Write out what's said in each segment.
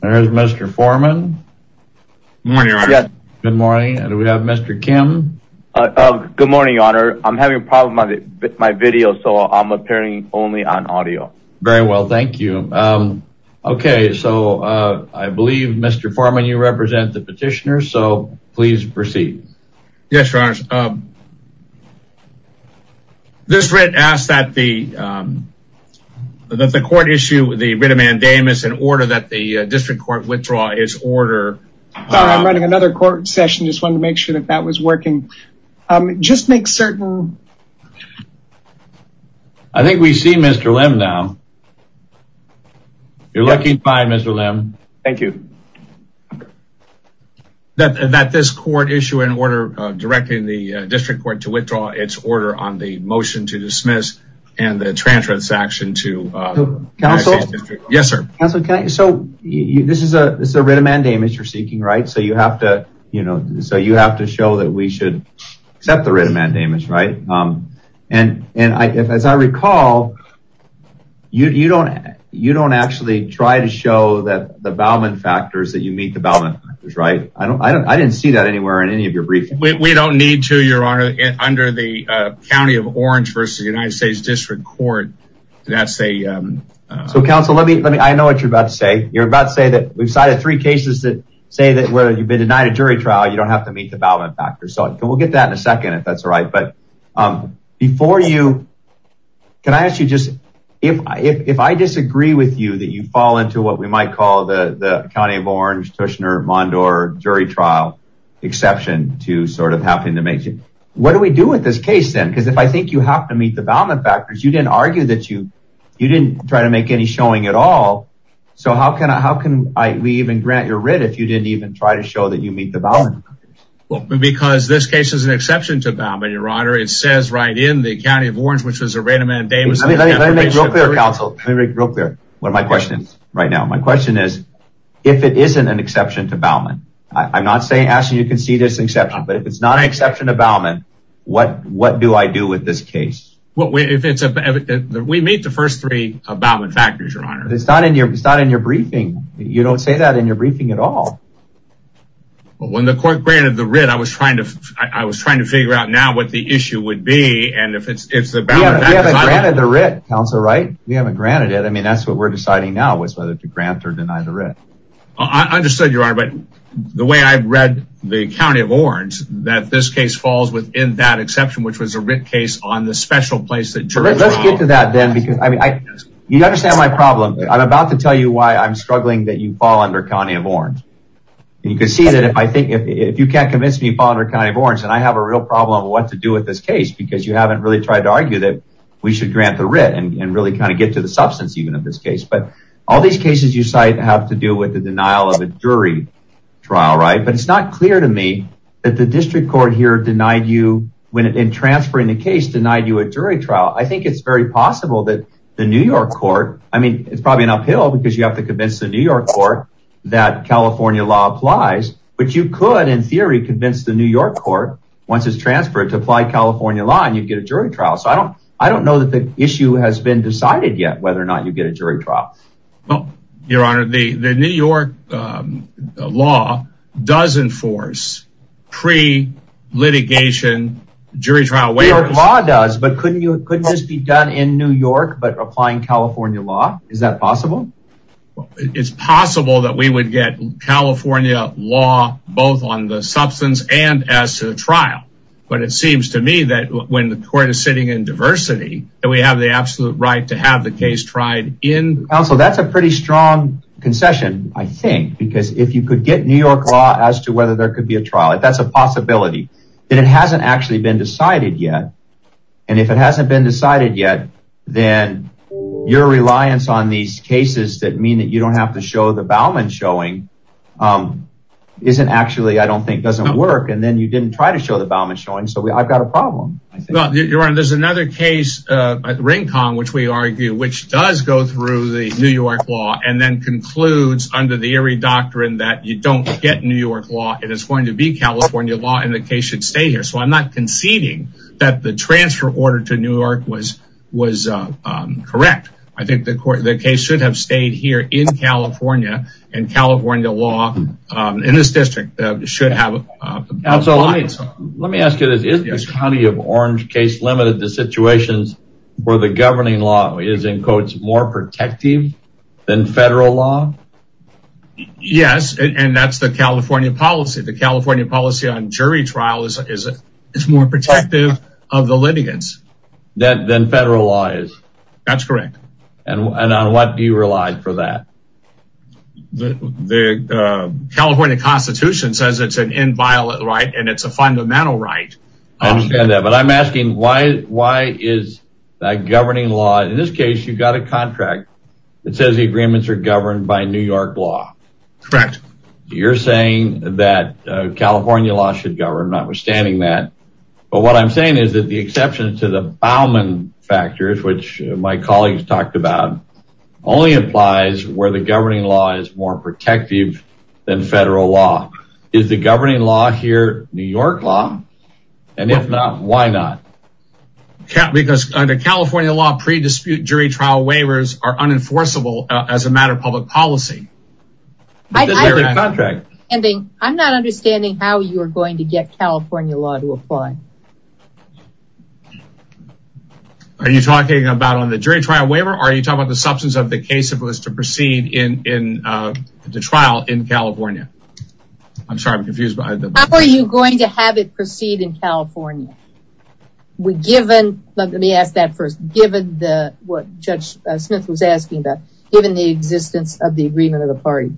There's Mr. Foreman. Good morning, Your Honor. Good morning. And we have Mr. Kim. Good morning, Your Honor. I'm having a problem with my video, so I'm appearing only on audio. Very well, thank you. Okay, so I believe Mr. Foreman, you represent the petitioner, so this writ asks that the court issue the writ of mandamus in order that the district court withdraw its order. Sorry, I'm running another court session. Just wanted to make sure that that was working. Just make certain... I think we see Mr. Lim now. You're looking fine, Mr. Lim. Thank you. That this court issue an order directing the district court to withdraw its order on the motion to dismiss and the transaction to... Counsel? Yes, sir. Counsel, this is a writ of mandamus you're seeking, right? So you have to show that we should accept the writ of mandamus, right? And as I recall, you don't actually try to show that the Bowman factors that you meet the Bowman factors, right? I didn't see that anywhere in any of your briefings. We don't need to, Your Honor. Under the county of Orange v. United States District Court, that's a... So, counsel, let me... I know what you're about to say. You're about to say that we've cited three cases that say that whether you've been denied a jury trial, you don't have to meet the Bowman factors, right? But before you... Can I ask you just... If I disagree with you that you fall into what we might call the county of Orange, Tushner, Mondor jury trial exception to sort of having to make... What do we do with this case then? Because if I think you have to meet the Bowman factors, you didn't argue that you... You didn't try to make any showing at all. So how can we even grant your writ if you didn't even try to show that you meet the Bowman factors? Well, because this case is an exception to Bowman, Your Honor. It says right in the county of Orange, which was a rate of mandate... Let me make it real clear, counsel. Let me make it real clear. What are my questions right now? My question is, if it isn't an exception to Bowman, I'm not saying... Actually, you can see this exception, but if it's not an exception to Bowman, what do I do with this case? Well, if it's a... We meet the first three Bowman factors, Your Honor. It's not in your briefing. You don't say that in your briefing at all. Well, when the court granted the writ, I was trying to figure out now what the issue would be, and if it's the Bowman factors... We haven't granted the writ, counsel, right? We haven't granted it. I mean, that's what we're deciding now, is whether to grant or deny the writ. I understood, Your Honor, but the way I've read the county of Orange, that this case falls within that exception, which was a writ case on the special place that... Let's get to that then, because I mean, you understand my problem. I'm about to tell you why I'm struggling that you can't convince me of Bowman or county of Orange, and I have a real problem of what to do with this case because you haven't really tried to argue that we should grant the writ and really kind of get to the substance even of this case, but all these cases you cite have to do with the denial of a jury trial, right? But it's not clear to me that the district court here denied you when in transferring the case, denied you a jury trial. I think it's very possible that the New York court... I mean, it's probably an uphill because you have to convince the New York court that California law applies, but you could, in theory, convince the New York court once it's transferred to apply California law and you'd get a jury trial. So I don't know that the issue has been decided yet whether or not you get a jury trial. Well, Your Honor, the New York law does enforce pre-litigation jury trial waivers. The New York law does, but couldn't this be done in New York but applying California law? Is that possible? It's possible that we would get California law both on the substance and as to the trial, but it seems to me that when the court is sitting in diversity that we have the absolute right to have the case tried in... Counsel, that's a pretty strong concession, I think, because if you could get New York law as to whether there could be a trial, if that's a possibility, then it hasn't actually been decided yet, and if it hasn't been decided yet, then your reliance on these cases that mean that you don't have to show the Bauman showing isn't actually, I don't think, doesn't work, and then you didn't try to show the Bauman showing, so I've got a problem. Well, Your Honor, there's another case at Ringkong, which we argue, which does go through the New York law and then concludes under the Erie doctrine that you don't get New York law, it is going to be California law, and the case should stay here, so I'm not conceding that the transfer order to New York was correct. I think the case should have stayed here in California, and California law in this district should have... Counsel, let me ask you this. Is the County of Orange case limited to situations where the governing law is, in quotes, more protective than federal law? Yes, and that's the California policy. The California policy on jury trials is more protective of the litigants than federal law is. That's correct. And on what do you rely for that? The California Constitution says it's an inviolate right, and it's a fundamental right. I understand that, but I'm asking why is that governing law, in this case, you've got a contract that says the agreements are governed by New York law. Correct. You're saying that California law should govern, notwithstanding that, but what I'm saying is that the exception to the Bauman factors, which my colleagues talked about, only implies where the governing law is more protective than federal law. Is the governing law here New York law, and if not, why not? Because under as a matter of public policy. I'm not understanding how you're going to get California law to apply. Are you talking about on the jury trial waiver, or are you talking about the substance of the case if it was to proceed in the trial in California? I'm sorry, I'm confused. Are you going to have it proceed in California? Let me ask that first. Given what Judge Smith was asking about, given the existence of the agreement of the party.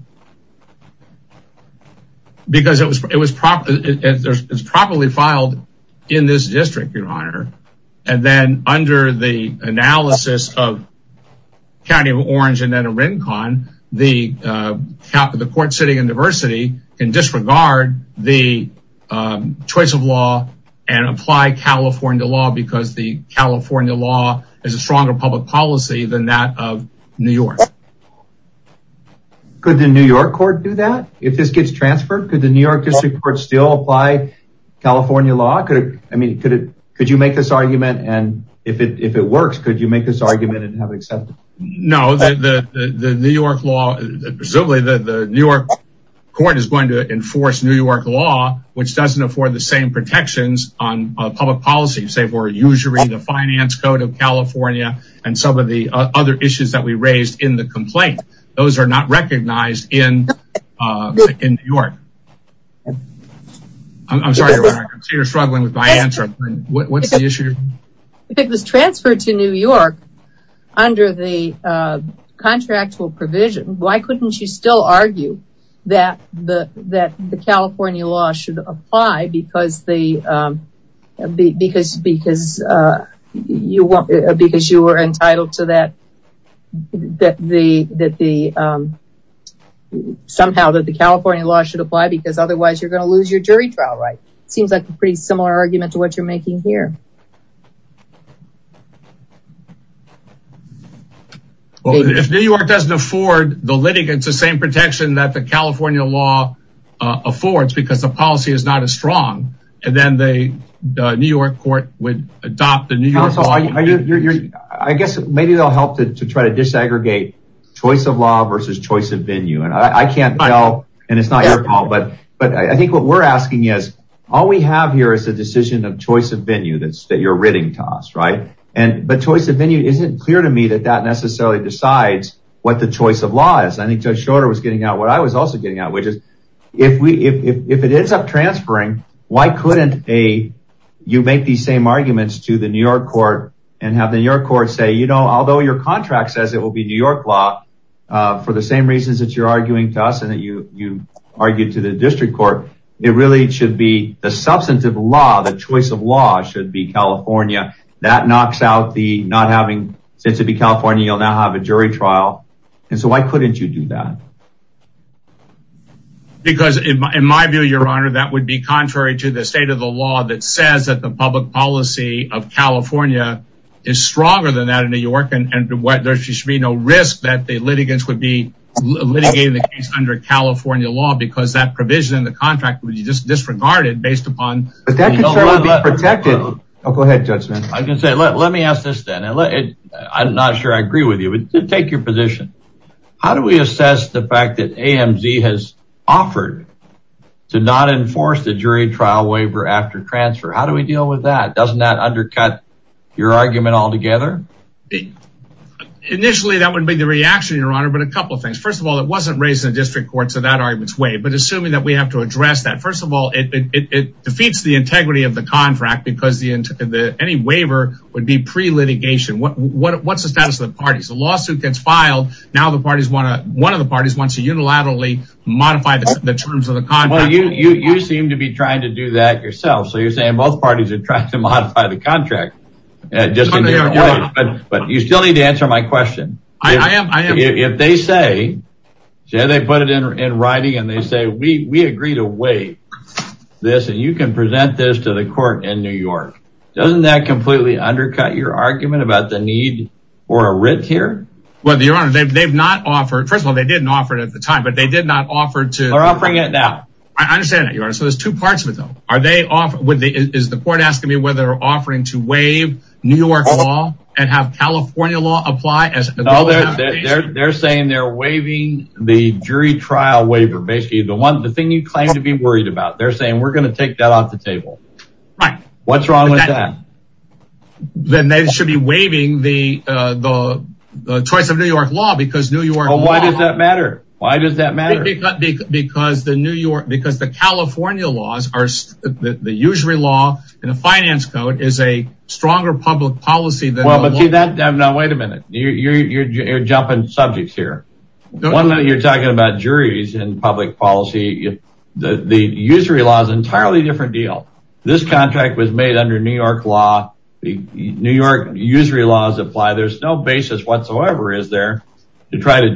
Because it was properly filed in this district, your honor, and then under the analysis of County of Orange and then Arincon, the court sitting in diversity can disregard the choice of law and apply California law because the California law is a stronger public policy than that of New York. Could the New York court do that? If this gets transferred, could the New York district court still apply California law? Could you make this argument, and if it works, could you make this argument and have it accepted? No, the New York court is going to enforce New York law, which doesn't afford the same protections on public policy, say for usury, the finance code of California, and some of the other issues that we raised in the complaint. Those are not recognized in New York. I'm sorry, your honor, I'm struggling with my answer. If it was transferred to New York under the contractual provision, why couldn't you still you want, because you were entitled to that, that the, somehow that the California law should apply because otherwise you're going to lose your jury trial right. Seems like a pretty similar argument to what you're making here. Well, if New York doesn't afford the litigants the same protection that the California law affords because the policy is not as strong, and then the New York court would adopt the New York law. I guess maybe they'll help to try to disaggregate choice of law versus choice of venue, and I can't tell, and it's not your problem, but I think what we're asking is all we have here is the decision of choice of venue that you're writting to us, right, and but choice of venue isn't clear to me that that necessarily decides what the choice of law is. I think Judge Shorter was getting at what I was also getting at, which is if it ends up to the New York court and have the New York court say, you know, although your contract says it will be New York law for the same reasons that you're arguing to us and that you argued to the district court, it really should be the substantive law, the choice of law should be California. That knocks out the not having, since it'd be California, you'll now have a jury trial, and so why couldn't you do that? Because in my view, your honor, that would be contrary to the policy of California is stronger than that in New York, and there should be no risk that the litigants would be litigating the case under California law, because that provision in the contract would be just disregarded based upon... But that could certainly be protected. Oh, go ahead, Judge Smith. I can say, let me ask this then, and I'm not sure I agree with you, but take your position. How do we assess the fact that AMZ has offered to not enforce the jury trial waiver after transfer? How do we deal with that? Doesn't that undercut your argument altogether? Initially, that wouldn't be the reaction, your honor, but a couple of things. First of all, it wasn't raised in the district court, so that argument's waived, but assuming that we have to address that, first of all, it defeats the integrity of the contract, because any waiver would be pre-litigation. What's the status of the parties? The lawsuit gets filed, now one of the parties wants to unilaterally modify the terms of the contract. Well, you seem to be trying to do that yourself, so you're saying both parties are trying to modify the contract, but you still need to answer my question. I am, I am. If they say, say they put it in writing and they say, we agree to waive this and you can present this to the court in New York, doesn't that completely undercut your argument about the need for a writ here? Well, your honor, they've not offered, first of all, they didn't offer it at the time, but they did not offer to... They're offering it now. I understand there's two parts of it, though. Is the court asking me whether they're offering to waive New York law and have California law apply? No, they're saying they're waiving the jury trial waiver. Basically, the thing you claim to be worried about. They're saying, we're going to take that off the table. Right. What's wrong with that? Then they should be waiving the choice of New York law because New York law... California laws are... The usury law and the finance code is a stronger public policy than... Well, but see that... No, wait a minute. You're jumping subjects here. One minute you're talking about juries and public policy. The usury law is an entirely different deal. This contract was made under New York law. New York usury laws apply. There's no basis whatsoever, is there, to try to New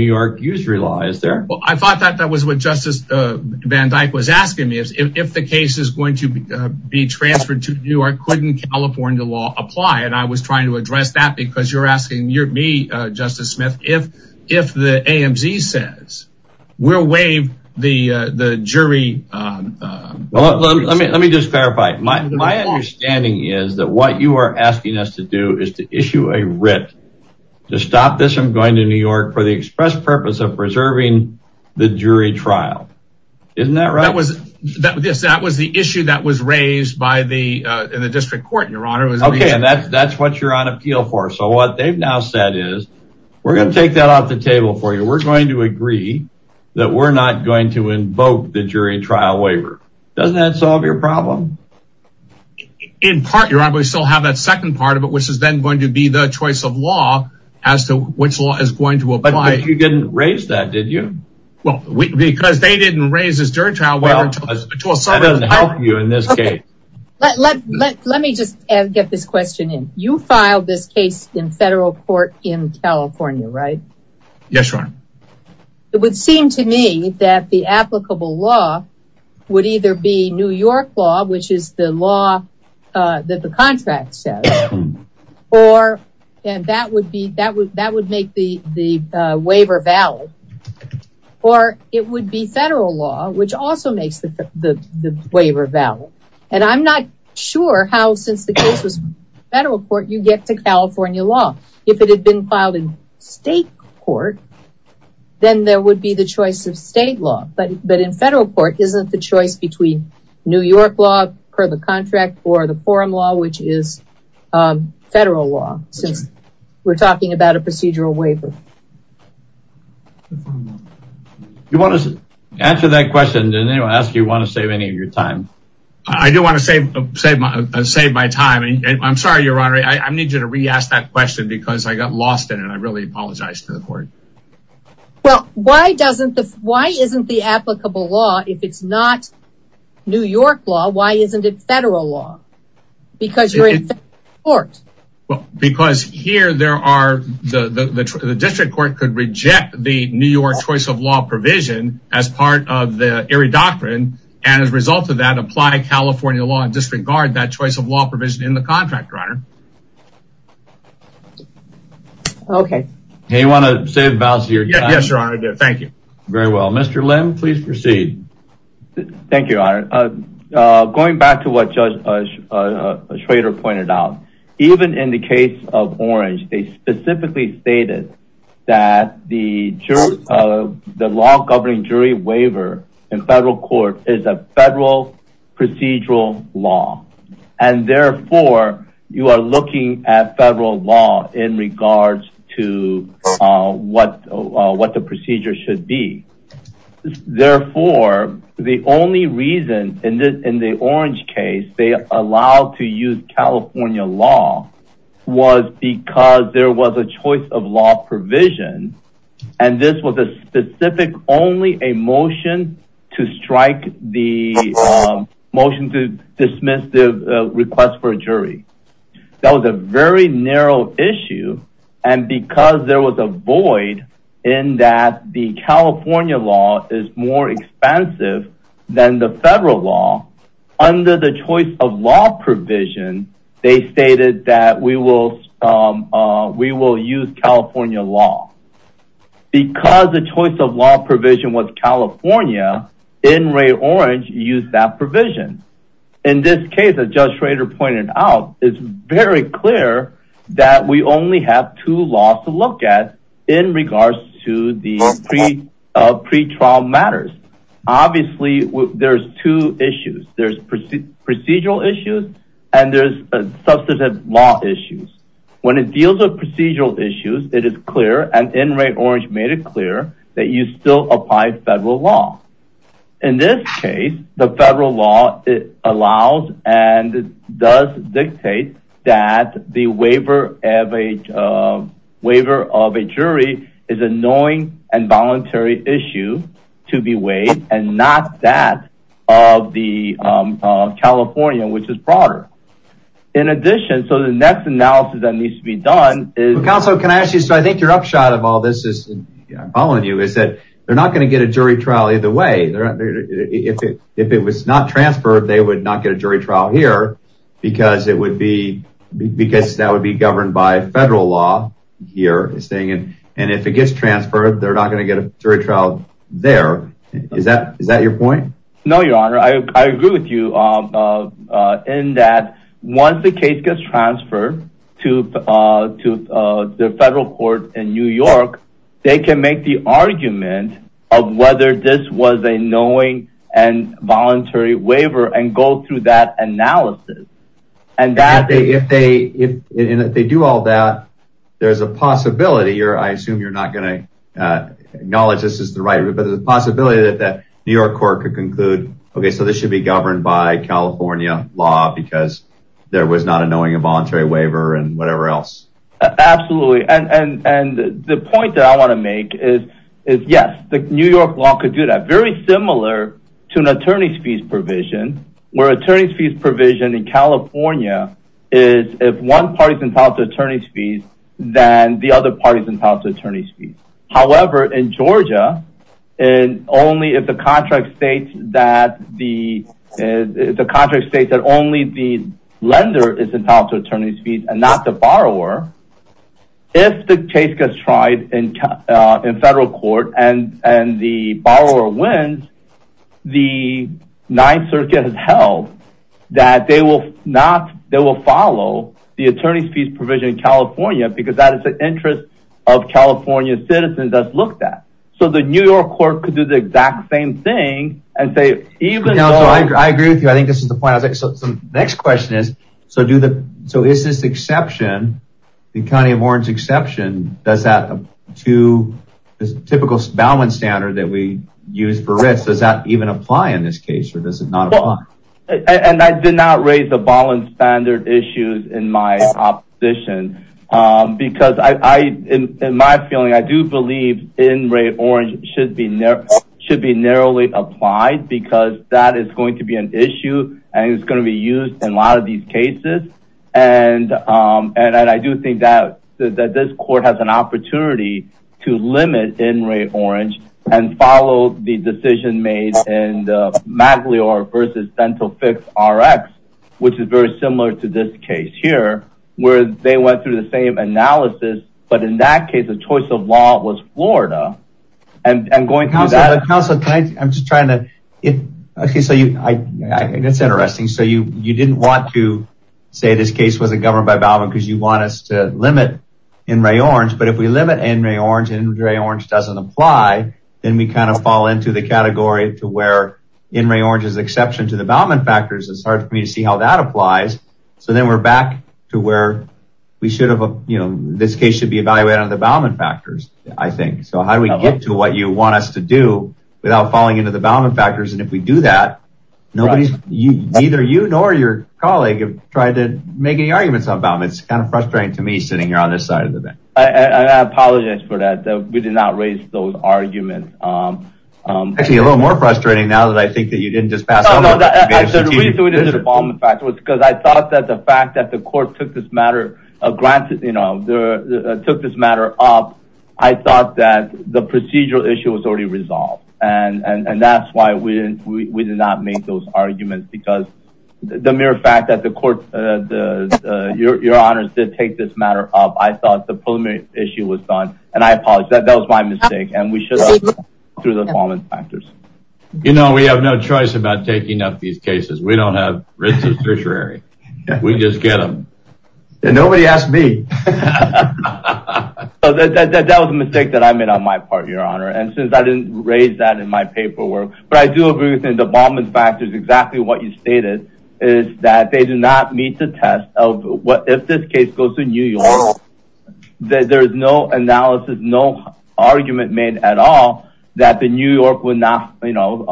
York usury law, is there? I thought that was what Justice Van Dyke was asking me. If the case is going to be transferred to New York, couldn't California law apply? I was trying to address that because you're asking me, Justice Smith, if the AMZ says we'll waive the jury... Let me just clarify. My understanding is that what you are asking us to do is to issue a writ to stop this from going to New York for the express purpose of preserving the jury trial. Isn't that right? That was the issue that was raised in the district court, Your Honor. Okay, and that's what you're on appeal for. So what they've now said is, we're going to take that off the table for you. We're going to agree that we're not going to invoke the jury trial waiver. Doesn't that solve your problem? In part, Your Honor, but we still have that second part of it, which is then going to be the choice of law as to which law is going to apply. But you didn't raise that, did you? Well, because they didn't raise this jury trial waiver. That doesn't help you in this case. Let me just get this question in. You filed this case in federal court in California, right? Yes, Your Honor. It would seem to me that the applicable law would either be New York law, which is the law that the contract says, and that would make the waiver valid. Or it would be federal law, which also makes the waiver valid. And I'm not sure how, since the case was federal court, you get to California law. If it had been filed in state court, then there would be the choice of state law. But in federal court, isn't the choice between New York law per the contract or the forum law, which is federal law, since we're talking about a procedural waiver? You want us to answer that question? Did anyone ask you want to save any of your time? I do want to save my time. I'm sorry, Your Honor. I need you to re-ask that question because I got lost in it. I really apologize to the court. Well, why isn't the applicable law, if it's not New York law, why isn't it federal law? Because you're in federal court. Because here, the district court could reject the New York choice of law provision as part of the Erie Doctrine, and as a result of that, apply California law and disregard that choice of law Yes, Your Honor, I did. Thank you. Very well. Mr. Lim, please proceed. Thank you, Your Honor. Going back to what Judge Schrader pointed out, even in the case of Orange, they specifically stated that the law governing jury waiver in federal court is a federal procedural law. And therefore, you are looking at federal law in regards to what the procedure should be. Therefore, the only reason in the Orange case, they allowed to use California law was because there was a choice of law provision, and this was a specific only a motion to strike the motion to dismiss the request for a jury. That was a very narrow issue. And because there was a void in that the California law is more expensive than the federal law, under the choice of law provision, they stated that we will use California law. Because the choice of law provision was California, in Ray Orange, use that provision. In this case, as Judge Schrader pointed out, it's very clear that we only have two laws to look at in regards to the pre-trial matters. Obviously, there's two issues. There's procedural issues, and there's substantive law issues. When it deals with procedural issues, it is clear, and in Ray Orange made it clear that you still apply federal law. In this case, the federal law allows and does dictate that the waiver of a jury is a knowing and voluntary issue to be waived, and not that of the California, which is broader. In addition, so the next analysis that needs to be done is... Counselor, can I ask you, so I think your upshot of all this is, is that they're not going to get a jury trial either way. If it was not transferred, they would not get a jury trial here, because that would be governed by federal law. And if it gets transferred, they're not going to get a jury trial there. Is that your point? No, your honor. I agree with you in that once the case gets transferred to the federal court in New York, they can make the argument of whether this was a knowing and voluntary waiver, and go through that analysis. If they do all that, there's a possibility, or I assume you're not going to acknowledge this is the right, but there's a possibility that the New York court could conclude, okay, so this should be governed by California law, because there was not a knowing and voluntary waiver and whatever else. Absolutely. And the point that I want to make is, yes, the New York law could do that. Very similar to an attorney's fees provision, where attorney's fees provision in California is if one party's entitled to attorney's fees, then the other party's entitled to attorney's fees. However, in Georgia, and only if the contract states that only the lender is entitled to attorney's fees and not the borrower, if the case gets tried in federal court and the borrower wins, the ninth circuit has held that they will follow the attorney's fees provision in California, because that is interest of California citizens that's looked at. So the New York court could do the exact same thing. I agree with you. I think this is the point. The next question is, so is this exception, the county of Warren's exception, does that to the typical balance standard that we use for risk, does that even apply in this case, or does it not apply? And I did not raise the balance standard issues in my opposition, because I, in my feeling, I do believe in rate orange should be narrowly applied because that is going to be an issue and it's going to be used in a lot of these cases. And I do think that this court has an opportunity to limit in rate orange and follow the decision made in Magliore versus dental fix RX, which is very similar to this case here, where they went through the same analysis, but in that case, the choice of law was Florida and going through that. Counselor, I'm just trying to, it's interesting. So you didn't want to say this case wasn't governed by Balvin because you want us to limit in rate orange, but if we fall into the category to where in rate orange is exception to the Balvin factors, it's hard for me to see how that applies. So then we're back to where we should have, this case should be evaluated on the Balvin factors, I think. So how do we get to what you want us to do without falling into the Balvin factors? And if we do that, nobody's, neither you nor your colleague have tried to make any arguments on Balvin. It's kind of frustrating to me sitting here on this event. I apologize for that. We did not raise those arguments. Actually, a little more frustrating now that I think that you didn't just pass on the Balvin factors, because I thought that the fact that the court took this matter, took this matter up, I thought that the procedural issue was already resolved. And that's why we did not make those arguments because the mere fact that the the your honors did take this matter up. I thought the preliminary issue was done. And I apologize that that was my mistake. And we should have through the Balvin factors. You know, we have no choice about taking up these cases. We don't have risks of tertiary. We just get them. And nobody asked me. That was a mistake that I made on my part, your honor. And since I didn't raise that in my paperwork, but I do agree with the Balvin factors, exactly what you stated is that they do not meet the test of what if this case goes to New York, that there is no analysis, no argument made at all, that the New York would not, you know,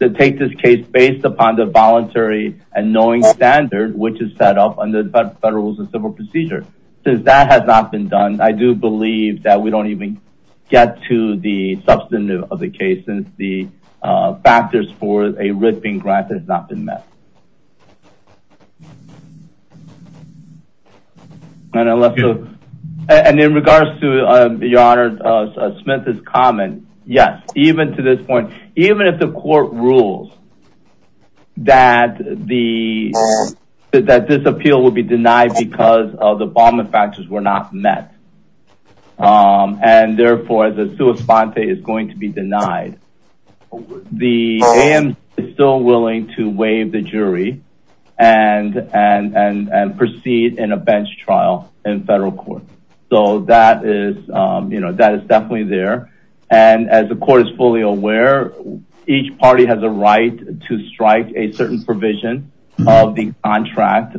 take this case based upon the voluntary and knowing standard, which is set up under the Federal Rules of Civil Procedure. Since that has not been done, I do believe that we don't even get to the substantive of the case since the factors for a ripping grant has not been met. And in regards to your honor Smith's comment, yes, even to this point, even if the court rules that the that this appeal will be denied because of the Balvin factors were not met. Um, and therefore, the suicide is going to be denied. The am still willing to waive the jury and and and proceed in a bench trial in federal court. So that is, you know, that is definitely there. And as the court is fully aware, each party has a right to strike a certain provision of the contract.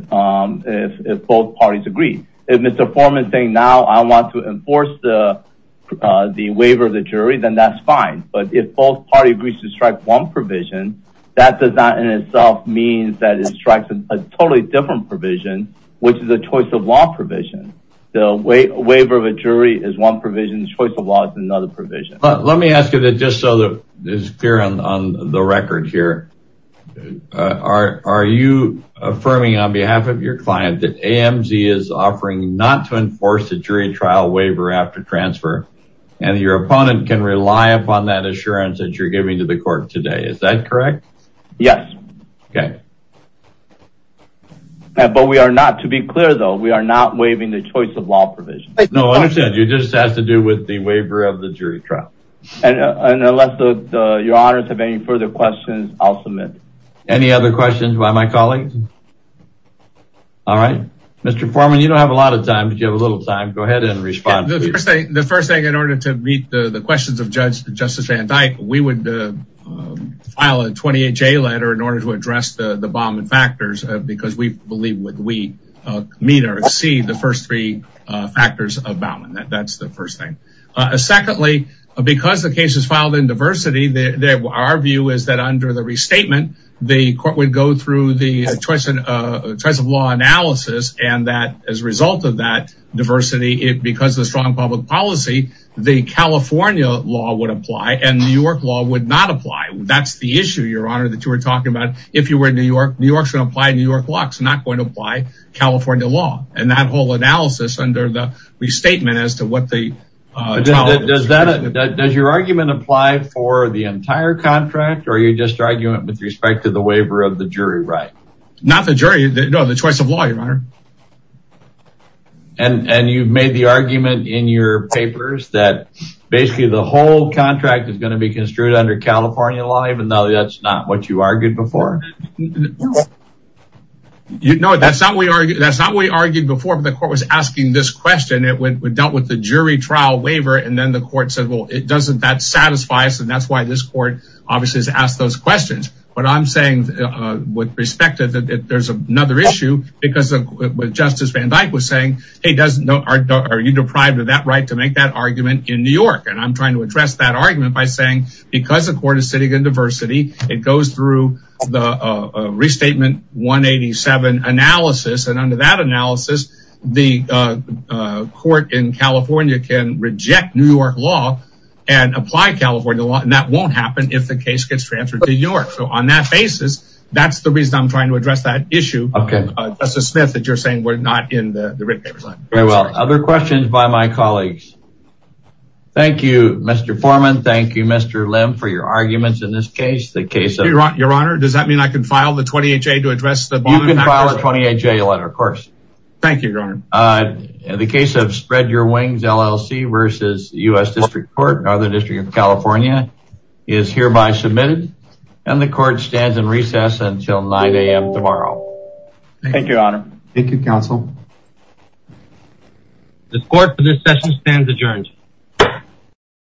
If both parties agree, if Mr. Foreman saying now I want to enforce the the waiver of the jury, then that's fine. But if both parties agree to strike one provision, that does not in itself means that it strikes a totally different provision, which is a choice of law provision. The way waiver of a jury is one provision choice of law is another provision. Let me ask you that just so that is clear on the record here. Are you affirming on behalf of your client that AMC is offering not to enforce a jury trial waiver after transfer, and your opponent can rely upon that assurance that you're giving to the court today? Is that correct? Yes. Okay. But we are not to be clear, though, we are not waiving the choice of law provision. No, I said you just have to do with the waiver of the jury trial. And unless the your honors have any further questions, I'll submit. Any other questions by my colleagues? All right, Mr. Foreman, you don't have a lot of time, but you have a little time. Go ahead and respond. The first thing in order to meet the questions of Judge Justice Van Dyke, we would file a 28 J letter in order to address the bomb and factors because we believe when we meet or see the first three factors about that, that's the first thing. Secondly, because the case is filed in diversity, that our view is that under the restatement, the court would go through the choice of choice of law analysis. And that as a result of that diversity, it because the strong public policy, the California law would apply and New York law would not apply. That's the issue, Your Honor, that you were talking about. If you were in New York, New York should apply New York law is not going to apply California law. And that whole analysis under the restatement as to what the does that does your argument apply for the entire contract? Or are you just arguing with respect to the waiver of the jury? Right? Not the jury, the choice of lawyer. And you've made the argument in your papers that basically the whole contract is going to be construed under California law, even though that's not what you argued before. You know, that's not what we argued. That's not what we argued before, but the court was asking this question, it would dealt with the jury trial waiver. And then the court said, well, it doesn't that satisfies. And that's why this court obviously has asked those questions. But I'm saying, with respect to that, there's another issue, because Justice Van Dyke was saying, hey, doesn't know, are you deprived of that right to make that argument in New York. And I'm trying to address that argument by saying, because the diversity, it goes through the restatement 187 analysis. And under that analysis, the court in California can reject New York law and apply California law. And that won't happen if the case gets transferred to New York. So on that basis, that's the reason I'm trying to address that issue. Okay, that's a Smith that you're saying we're not in the red paper. Very well. Other questions by my colleagues. Thank you, Mr. Foreman. Thank you, Mr. Lim, for your arguments in this case, the case of your honor, does that mean I can file the 28 day to address the 28 day letter? Of course. Thank you, your honor. The case of spread your wings LLC versus US District Court, Northern District of California is hereby submitted. And the court stands in recess until 9am tomorrow. Thank you, Your Honor. Thank you, counsel. The court for this session stands adjourned.